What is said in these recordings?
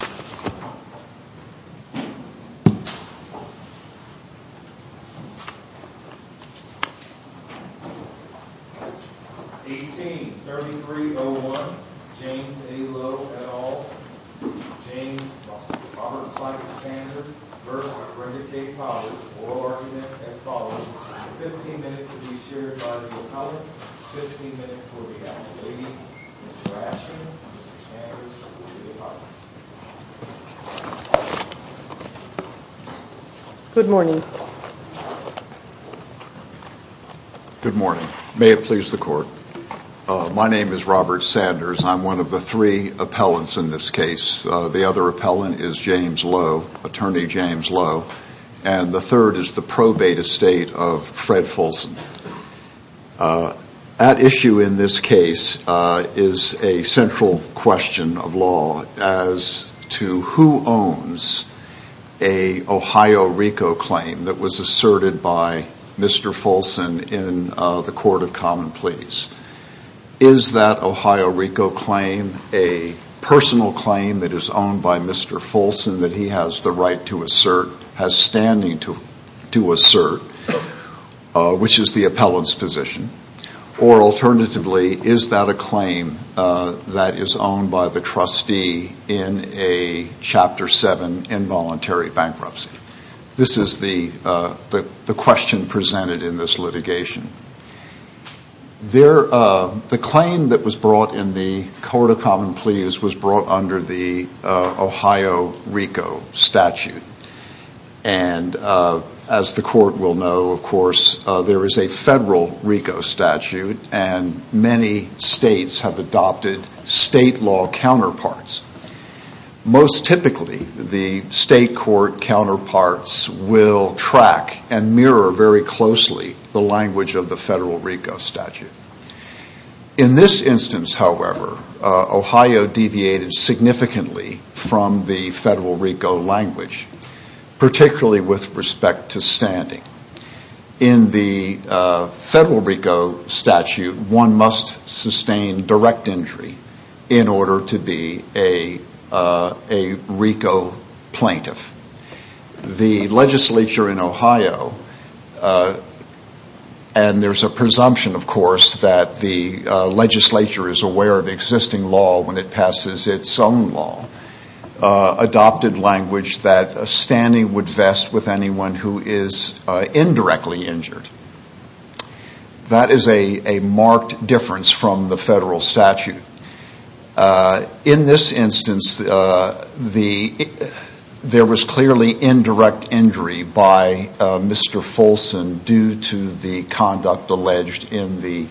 18-3301 James A. Lowe et al. James Robert Clyde Sanders v. Brenda K Bowers Oral argument as follows. Fifteen minutes will be shared by the appellate. Fifteen minutes will be allocated. Good morning. Good morning. May it please the court. My name is Robert Sanders. I'm one of the three appellants in this case. The other appellant is James Lowe, Attorney James Lowe. And the third is the probate estate of Fred Fulson. At issue in this case is a central question of law as to who owns an Ohio-Rico claim that was asserted by Mr. Fulson in the Court of Common Pleas. Is that Ohio-Rico claim a personal claim that is owned by Mr. Fulson that he has the right to assert, has standing to assert, which is the appellant's position? Or alternatively, is that a claim that is owned by the trustee in a Chapter 7 involuntary bankruptcy? This is the question presented in this litigation. The claim that was brought in the Court of Common Pleas was brought under the Ohio-Rico statute. And as the court will know, of course, there is a federal RICO statute and many states have adopted state law counterparts. Most typically, the state court counterparts will track and mirror very closely the language of the federal RICO statute. In this instance, however, Ohio deviated significantly from the federal RICO language, particularly with respect to standing. In the federal RICO statute, one must sustain direct injury in order to be a RICO plaintiff. The legislature in Ohio, and there's a presumption, of course, that the legislature is aware of existing law when it passes its own law, adopted language that standing would vest with anyone who is indirectly injured. That is a marked difference from the federal statute. In this instance, there was clearly indirect injury by Mr. Folson due to the conduct alleged in the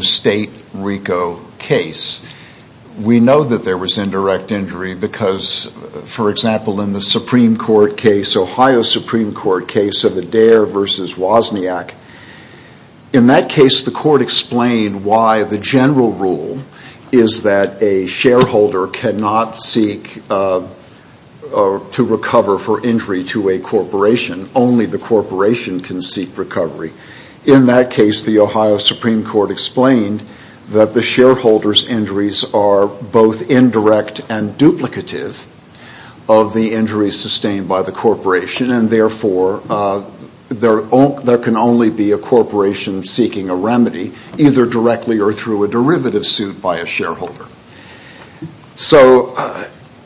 state RICO case. We know that there was indirect injury because, for example, in the Ohio Supreme Court case of Adair v. Wozniak, in that case the court explained why the general rule is that a shareholder cannot seek to recover for injury to a corporation. Only the corporation can seek recovery. In that case, the Ohio Supreme Court explained that the shareholder's injuries are both indirect and duplicative of the injuries sustained by the corporation, and therefore there can only be a corporation seeking a remedy, either directly or through a derivative suit by a shareholder. So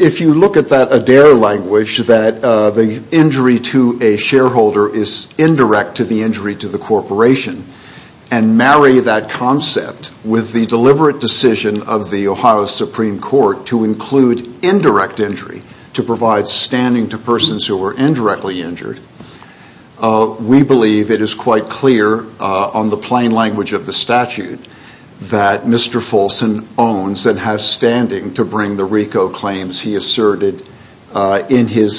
if you look at that Adair language, that the injury to a shareholder is indirect to the injury to the corporation, and marry that concept with the deliberate decision of the Ohio Supreme Court to include indirect injury to provide standing to persons who were indirectly injured, we believe it is quite clear on the plain language of the statute that Mr. Folson owns and has standing to bring the RICO claims he asserted in his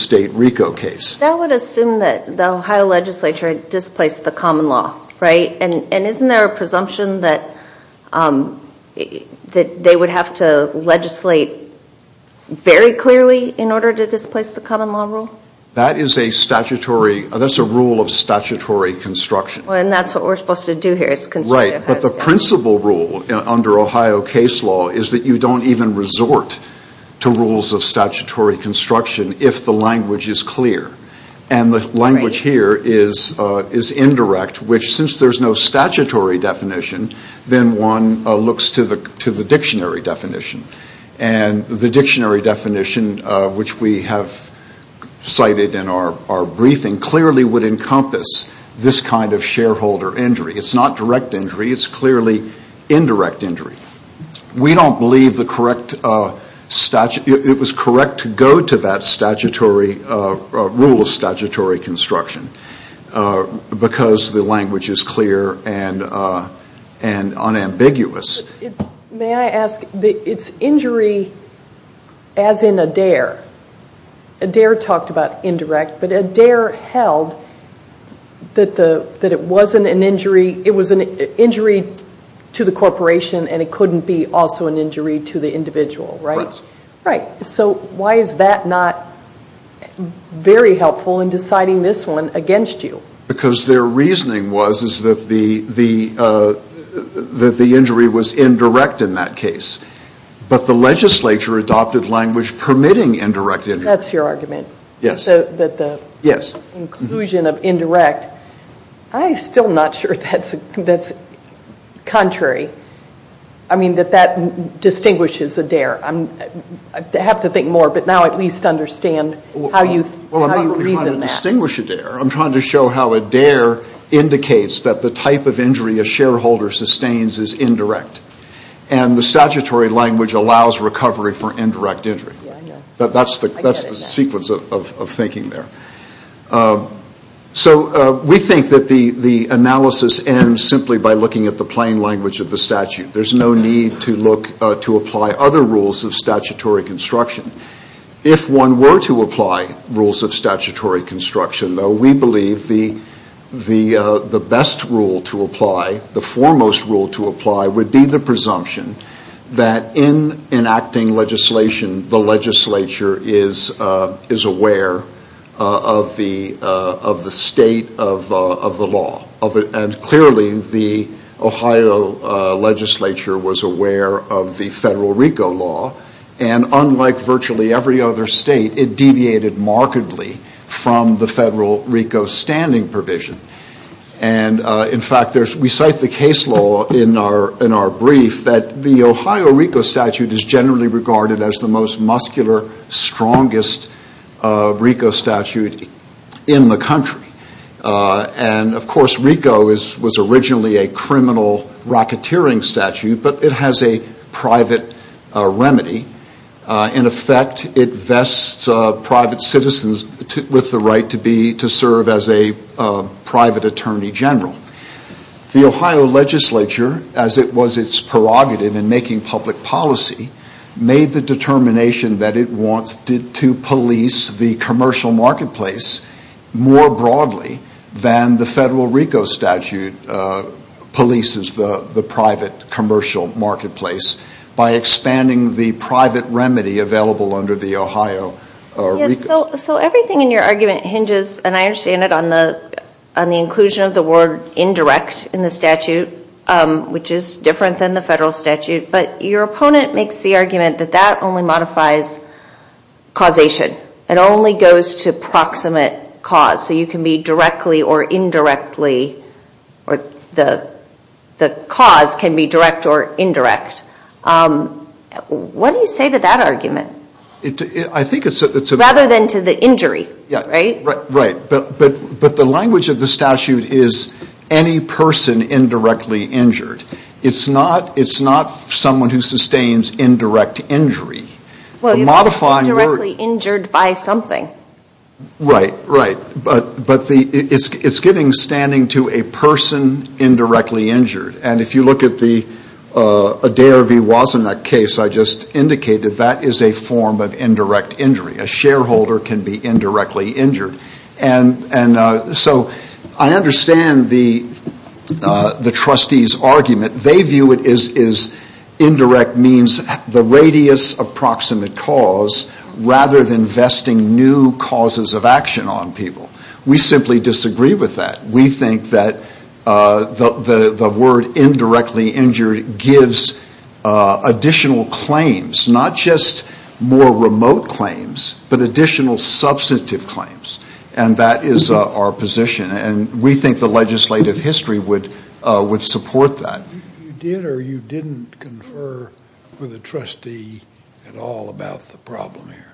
state RICO case. That would assume that the Ohio legislature displaced the common law, right? And isn't there a presumption that they would have to legislate very clearly in order to displace the common law rule? That's a rule of statutory construction. Well, and that's what we're supposed to do here. Right, but the principle rule under Ohio case law is that you don't even resort to rules of statutory construction if the language is clear. And the language here is indirect, which since there's no statutory definition, then one looks to the dictionary definition. And the dictionary definition, which we have cited in our briefing, clearly would encompass this kind of shareholder injury. It's not direct injury. It's clearly indirect injury. We don't believe it was correct to go to that rule of statutory construction because the language is clear and unambiguous. May I ask, it's injury as in a dare. A dare talked about indirect, but a dare held that it wasn't an injury. It was an injury to the corporation and it couldn't be also an injury to the individual, right? Right. So why is that not very helpful in deciding this one against you? Because their reasoning was that the injury was indirect in that case. But the legislature adopted language permitting indirect injury. That's your argument? Yes. That the inclusion of indirect, I'm still not sure that's contrary. I mean, that that distinguishes a dare. I have to think more, but now I at least understand how you reason that. I'm trying to show how a dare indicates that the type of injury a shareholder sustains is indirect. And the statutory language allows recovery for indirect injury. That's the sequence of thinking there. So we think that the analysis ends simply by looking at the plain language of the statute. There's no need to apply other rules of statutory construction. If one were to apply rules of statutory construction, though, we believe the best rule to apply, the foremost rule to apply would be the presumption that in enacting legislation, the legislature is aware of the state of the law. And clearly the Ohio legislature was aware of the federal RICO law. And unlike virtually every other state, it deviated markedly from the federal RICO standing provision. And, in fact, we cite the case law in our brief that the Ohio RICO statute is generally regarded as the most muscular, strongest RICO statute in the country. And, of course, RICO was originally a criminal racketeering statute, but it has a private remedy. In effect, it vests private citizens with the right to serve as a private attorney general. The Ohio legislature, as it was its prerogative in making public policy, made the determination that it wanted to police the commercial marketplace more broadly than the federal RICO statute polices the private commercial marketplace by expanding the private remedy available under the Ohio RICO. So everything in your argument hinges, and I understand it, on the inclusion of the word indirect in the statute, which is different than the federal statute, but your opponent makes the argument that that only modifies causation. It only goes to proximate cause, so you can be directly or indirectly, or the cause can be direct or indirect. What do you say to that argument? Rather than to the injury, right? Right, but the language of the statute is any person indirectly injured. It's not someone who sustains indirect injury. Well, you're indirectly injured by something. Right, right, but it's giving standing to a person indirectly injured, and if you look at the Adair v. Wozniak case I just indicated, that is a form of indirect injury. A shareholder can be indirectly injured. And so I understand the trustees' argument. They view it as indirect means the radius of proximate cause rather than vesting new causes of action on people. We simply disagree with that. We think that the word indirectly injured gives additional claims, not just more remote claims, but additional substantive claims. And that is our position, and we think the legislative history would support that. You did or you didn't confer with a trustee at all about the problem here?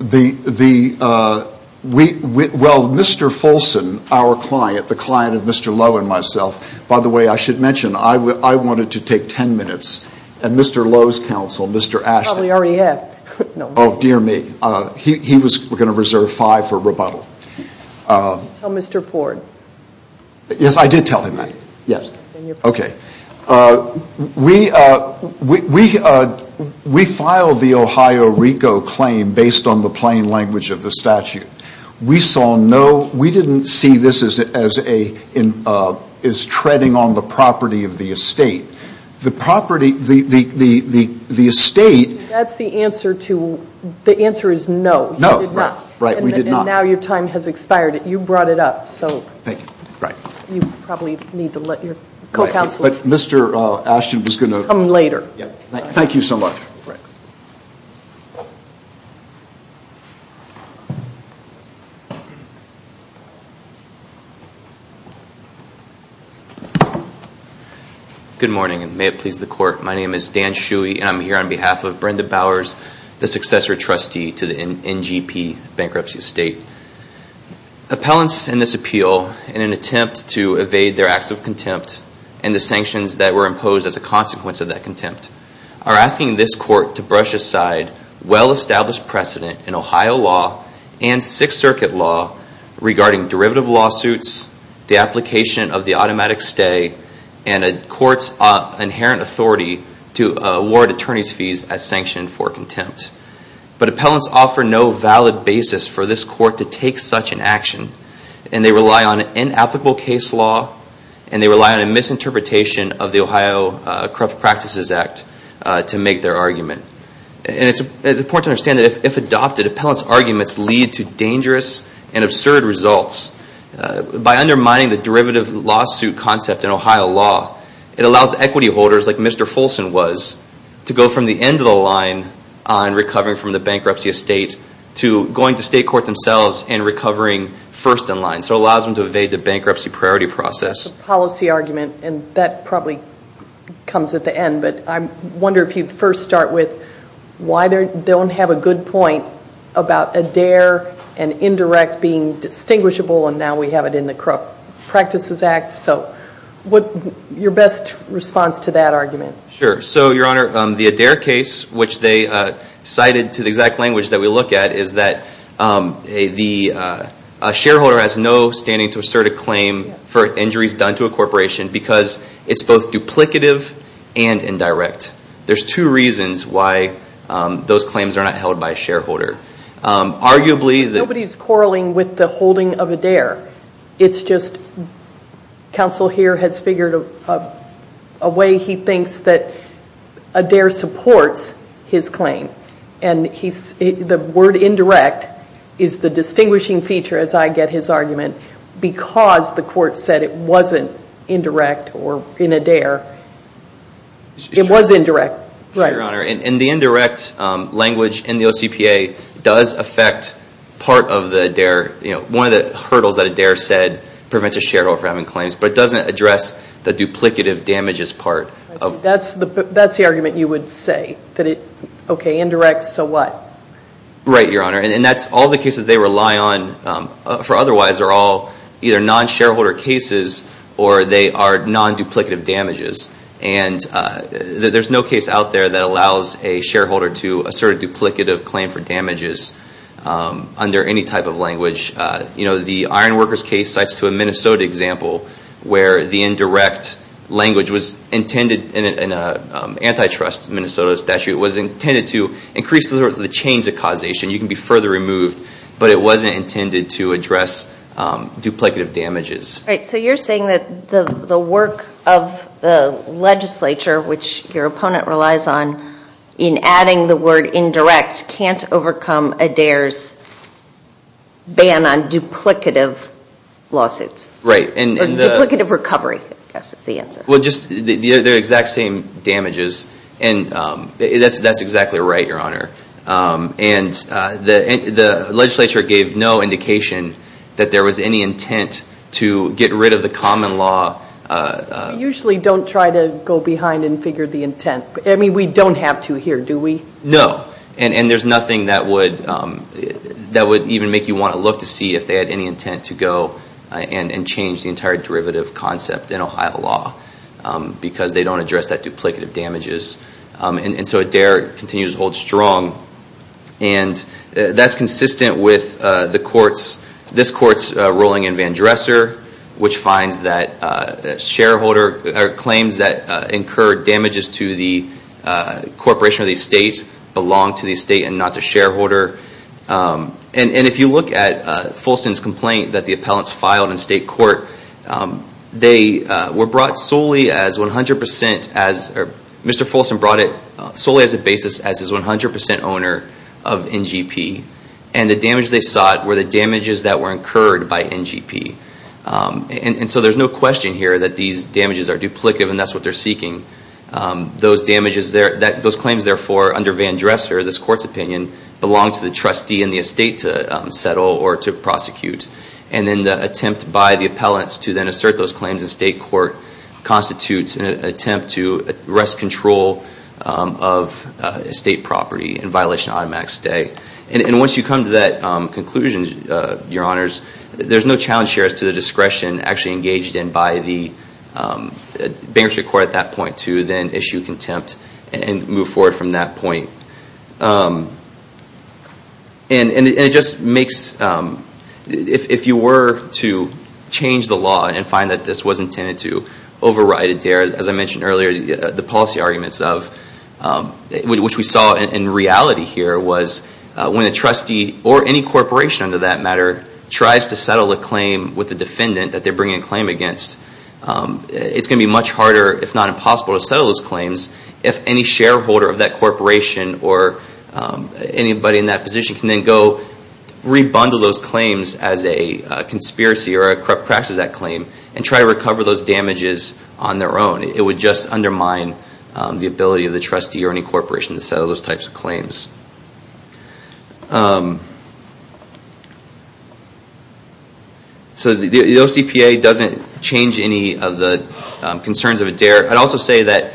Well, Mr. Fulson, our client, the client of Mr. Lowe and myself, by the way, I should mention, I wanted to take ten minutes. And Mr. Lowe's counsel, Mr. Ashton, dear me, he was going to reserve five for rebuttal. Tell Mr. Ford. Yes, I did tell him that. We filed the Ohio RICO claim based on the plain language of the statute. We saw no, we didn't see this as treading on the property of the estate. The property, the estate. That's the answer to, the answer is no. No, right, we did not. And now your time has expired. You brought it up, so you probably need to let your co-counsel. But Mr. Ashton was going to. Good morning, and may it please the Court, my name is Dan Shuey, and I'm here on behalf of Brenda Bowers, the successor trustee to the NGP Bankruptcy Estate. Appellants in this appeal, in an attempt to evade their acts of contempt, and the sanctions that were imposed as a consequence of that contempt, are asking this Court to brush aside well-established precedent in Ohio law and Sixth Circuit law regarding derivative lawsuits, the application of the automatic stay, and a court's inherent authority to award attorney's fees as sanctioned for contempt. But appellants offer no valid basis for this Court to take such an action, and they rely on inapplicable case law, and they rely on a misinterpretation of the Ohio Corrupt Practices Act to make their argument. And it's important to understand that if adopted, appellants' arguments lead to dangerous and absurd results. By undermining the derivative lawsuit concept in Ohio law, it allows equity holders, like Mr. Folson was, to go from the end of the line on recovering from the bankruptcy estate to going to state court themselves and recovering first in line. So it allows them to evade the bankruptcy priority process. That's a policy argument, and that probably comes at the end, but I wonder if you'd first start with why they don't have a good point about Adair and Indirect being distinguishable, and now we have it in the Corrupt Practices Act, so your best response to that argument. Sure. So, Your Honor, the Adair case, which they cited to the exact language that we look at, is that a shareholder has no standing to assert a claim for injuries done to a corporation because it's both duplicative and indirect. There's two reasons why those claims are not held by a shareholder. Nobody's quarreling with the holding of Adair. It's just counsel here has figured a way he thinks that Adair supports his claim, and the word indirect is the distinguishing feature, as I get his argument, because the court said it wasn't indirect or in Adair. It was indirect. Sure, Your Honor, and the indirect language in the OCPA does affect part of the Adair. One of the hurdles that Adair said prevents a shareholder from having claims, but it doesn't address the duplicative damages part. That's the argument you would say. Okay, indirect, so what? Right, Your Honor, and that's all the cases they rely on for otherwise are all either non-shareholder cases, or they are non-duplicative damages. There's no case out there that allows a shareholder to assert a duplicative claim for damages under any type of language. The Ironworkers case cites to a Minnesota example where the indirect language was intended, in an antitrust Minnesota statute, it was intended to increase the change of causation. You can be further removed, but it wasn't intended to address duplicative damages. Right, so you're saying that the work of the legislature, which your opponent relies on, in adding the word indirect can't overcome Adair's ban on duplicative lawsuits. Or duplicative recovery, I guess is the answer. They're the exact same damages, and that's exactly right, Your Honor. The legislature gave no indication that there was any intent to get rid of the common law. We usually don't try to go behind and figure the intent. I mean, we don't have to here, do we? No, and there's nothing that would even make you want to look to see if they had any intent to go and change the entire derivative concept in Ohio law, because they don't address that duplicative damages. And so Adair continues to hold strong. And that's consistent with this court's ruling in Vandresser, which finds that claims that incurred damages to the corporation or the estate belong to the estate and not the shareholder. And if you look at Folson's complaint that the appellants filed in state court, Mr. Folson brought it solely as a basis as his 100% owner of NGP. And the damage they sought were the damages that were incurred by NGP. And so there's no question here that these damages are duplicative and that's what they're seeking. Those claims, therefore, under Vandresser, this court's opinion, belong to the trustee in the estate to settle or to prosecute. And then the attempt by the appellants to then assert those claims in state court constitutes an attempt to take away ownership of estate property in violation of automatic stay. And once you come to that conclusion, your honors, there's no challenge here as to the discretion actually engaged in by the bankruptcy court at that point to then issue contempt and move forward from that point. And it just makes, if you were to change the law and find that this was intended to override it there, as I mentioned earlier, the policy arguments of, which we saw in reality here, was when a trustee or any corporation, under that matter, tries to settle a claim with a defendant that they're bringing a claim against, it's going to be much harder, if not impossible, to settle those claims if any shareholder of that corporation or anybody in that position can then go re-bundle those claims as a conspiracy or a crash of that claim and try to recover those damages on their own. It would just undermine the ability of the trustee or any corporation to settle those types of claims. So the OCPA doesn't change any of the concerns of ADARE. I'd also say that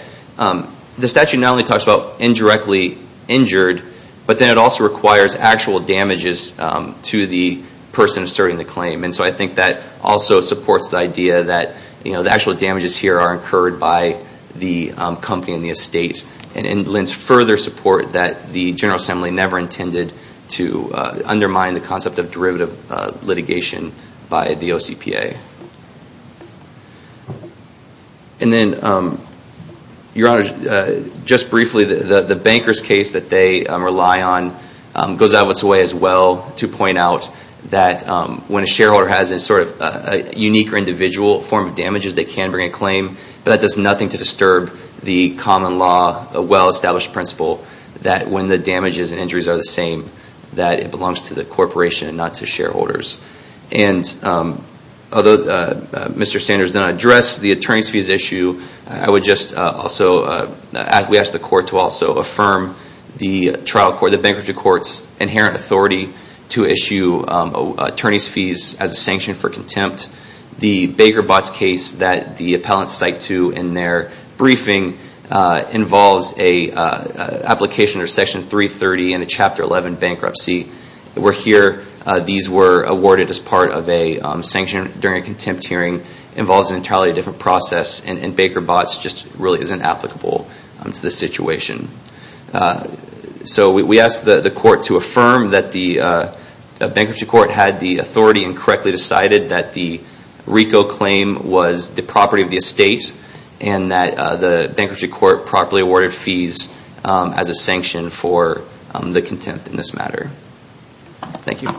the statute not only talks about indirectly injured, but then it also requires actual damages to the person asserting the claim. And so I think that also supports the idea that the actual damages here are incurred by the company and the estate. And it lends further support that the General Assembly never intended to undermine the concept of derivative litigation by the OCPA. Just briefly, the bankers' case that they rely on goes out of its way as well to point out that when a shareholder has a unique or individual form of damages, they can bring a claim, but that does nothing to disturb the common law, a well-established principle, that when the although Mr. Sanders did not address the attorney's fees issue, I would just also ask the court to also affirm the trial court, the bankruptcy court's inherent authority to issue attorney's fees as a sanction for contempt. The Baker-Botts case that the appellants cite to in their briefing involves an application under Section 330 and the Chapter 11 bankruptcy were here. These were awarded as part of a sanction during a contempt hearing. It involves an entirely different process, and Baker-Botts just really isn't applicable to the situation. So we ask the court to affirm that the bankruptcy court had the authority and correctly decided that the RICO claim was the property of the estate and that the bankruptcy court properly awarded fees as a sanction for the contempt in this matter. Thank you.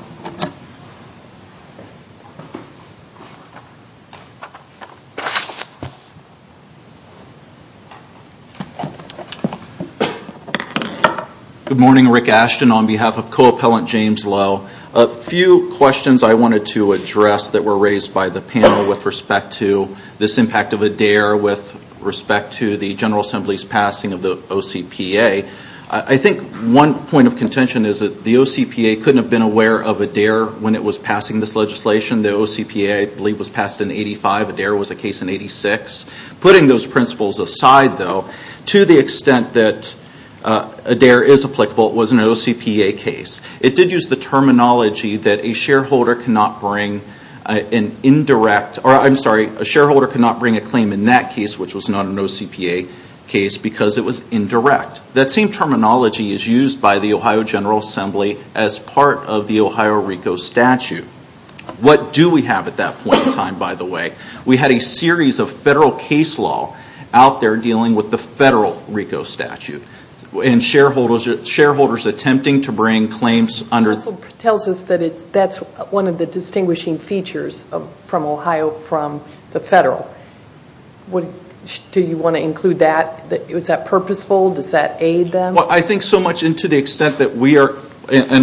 Good morning. Rick Ashton on behalf of co-appellant James Lowe. A few questions I wanted to address that were raised by the panel with respect to this impact of ADARE with respect to the General Assembly's passing of the OCPA. I think one point of contention is that the OCPA couldn't have been aware of ADARE when it was passing this legislation. The OCPA, I believe, was passed in 85. ADARE was a case in 86. Putting those principles aside, though, to the extent that ADARE is a case, a shareholder cannot bring a claim in that case, which was not an OCPA case, because it was indirect. That same terminology is used by the Ohio General Assembly as part of the Ohio RICO statute. What do we have at that point in time, by the way? We had a series of federal case law out there dealing with the federal RICO statute. Shareholders attempting to bring claims under... It also tells us that that's one of the distinguishing features from Ohio from the federal. Do you want to include that? Is that purposeful? Does that aid them? I think so much, and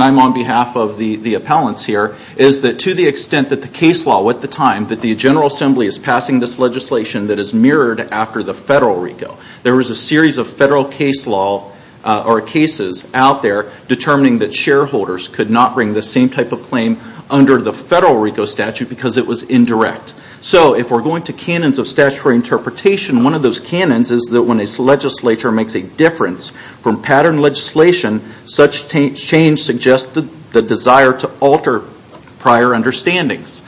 I'm on behalf of the appellants here, is that to the extent that the case law at the time, that the General Assembly is passing this legislation that is mirrored after the federal RICO. There was a series of federal cases out there determining that shareholders could not bring the same type of claim under the federal RICO statute because it was indirect. If we're going to canons of statutory interpretation, one of those canons is that when a legislature makes a difference from pattern legislation, such change suggests the desire to alter prior understandings.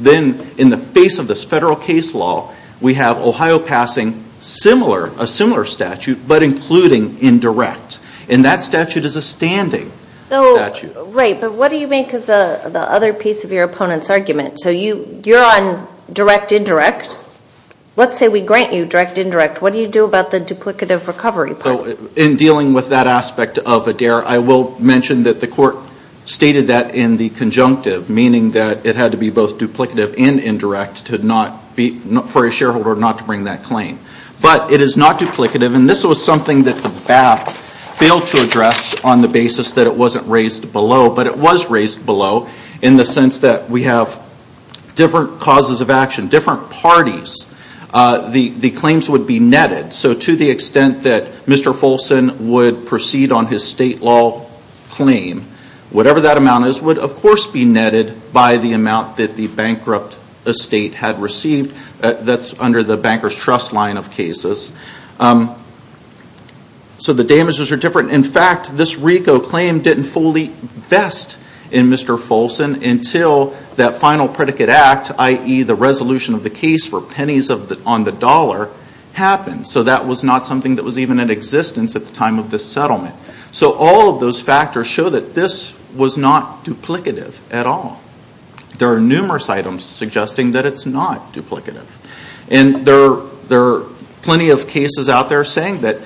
Then in the face of this federal case law, we have Ohio passing a similar statute, but including indirect, and that statute is a standing statute. Right, but what do you make of the other piece of your opponent's argument? So you're on direct-indirect. Let's say we grant you direct-indirect. What do you do about the duplicative recovery part? In dealing with that aspect of ADARE, I will mention that the court stated that in the conjunctive, meaning that it had to be both duplicative and indirect for a shareholder not to bring that claim. But it is not duplicative, and this was something that the BAP failed to address on the basis that it wasn't raised below, but it was raised below in the sense that we have different causes of action, different parties. The claims would be netted, so to the extent that Mr. Folson would proceed on his state law claim, whatever that amount is would of course be netted by the amount that the bankrupt estate had received. That's under the banker's trust line of cases. So the damages are different. In fact, this RICO claim didn't fully vest in Mr. Folson until that final predicate act, i.e. the resolution of the case for pennies on the dollar happened. So that was not something that was even in existence at the time of this settlement. So all of those factors show that this was not duplicative at all. There are numerous items suggesting that it's not duplicative. And there are plenty of cases out there saying that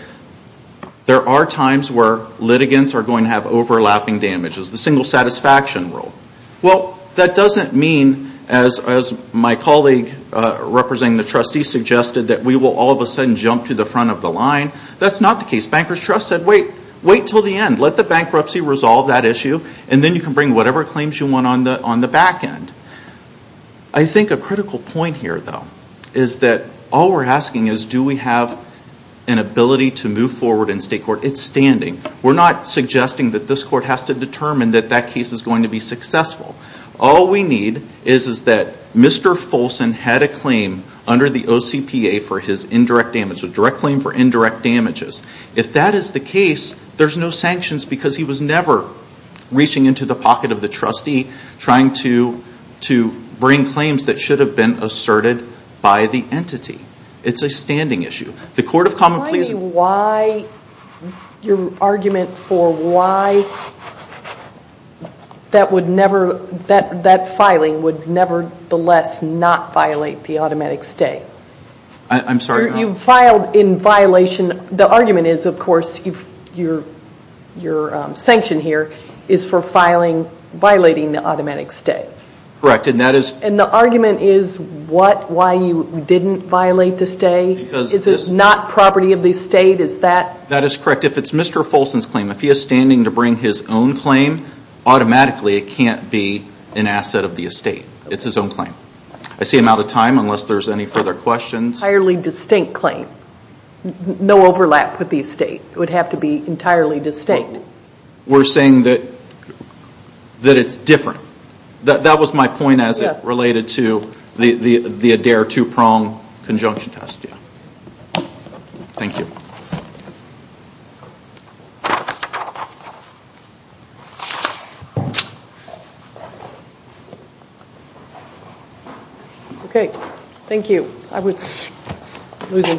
there are times where litigants are going to have overlapping damages, the single satisfaction rule. Well, that doesn't mean, as my colleague representing the banker's trust said, wait until the end. Let the bankruptcy resolve that issue and then you can bring whatever claims you want on the back end. I think a critical point here, though, is that all we're asking is do we have an ability to move forward in state court? It's standing. We're not suggesting that this court has to determine that that case is going to be successful. All we need is that Mr. Folson had a claim under the OCPA for his indirect damage, a direct claim for indirect damages. If that is the case, there's no sanctions because he was never reaching into the pocket of the trustee trying to bring claims that should have been asserted by the entity. It's a standing issue. The Court of Common Pleas... Your argument for why that filing would nevertheless not violate the automatic stay. I'm sorry? You filed in violation. The argument is, of course, your sanction here is for violating the automatic stay. Correct. And that is... And the argument is what, why you didn't violate the stay? Is it not property of the estate? Is that... That is correct. If it's Mr. Folson's claim, if he is standing to bring his own claim, automatically it can't be an asset of the estate. It's his own claim. I see I'm out of time unless there's any further questions. Entirely distinct claim. No overlap with the estate. It would have to be entirely distinct. We're saying that it's different. That was my point as it related to the Adair two-prong conjunction test. Thank you.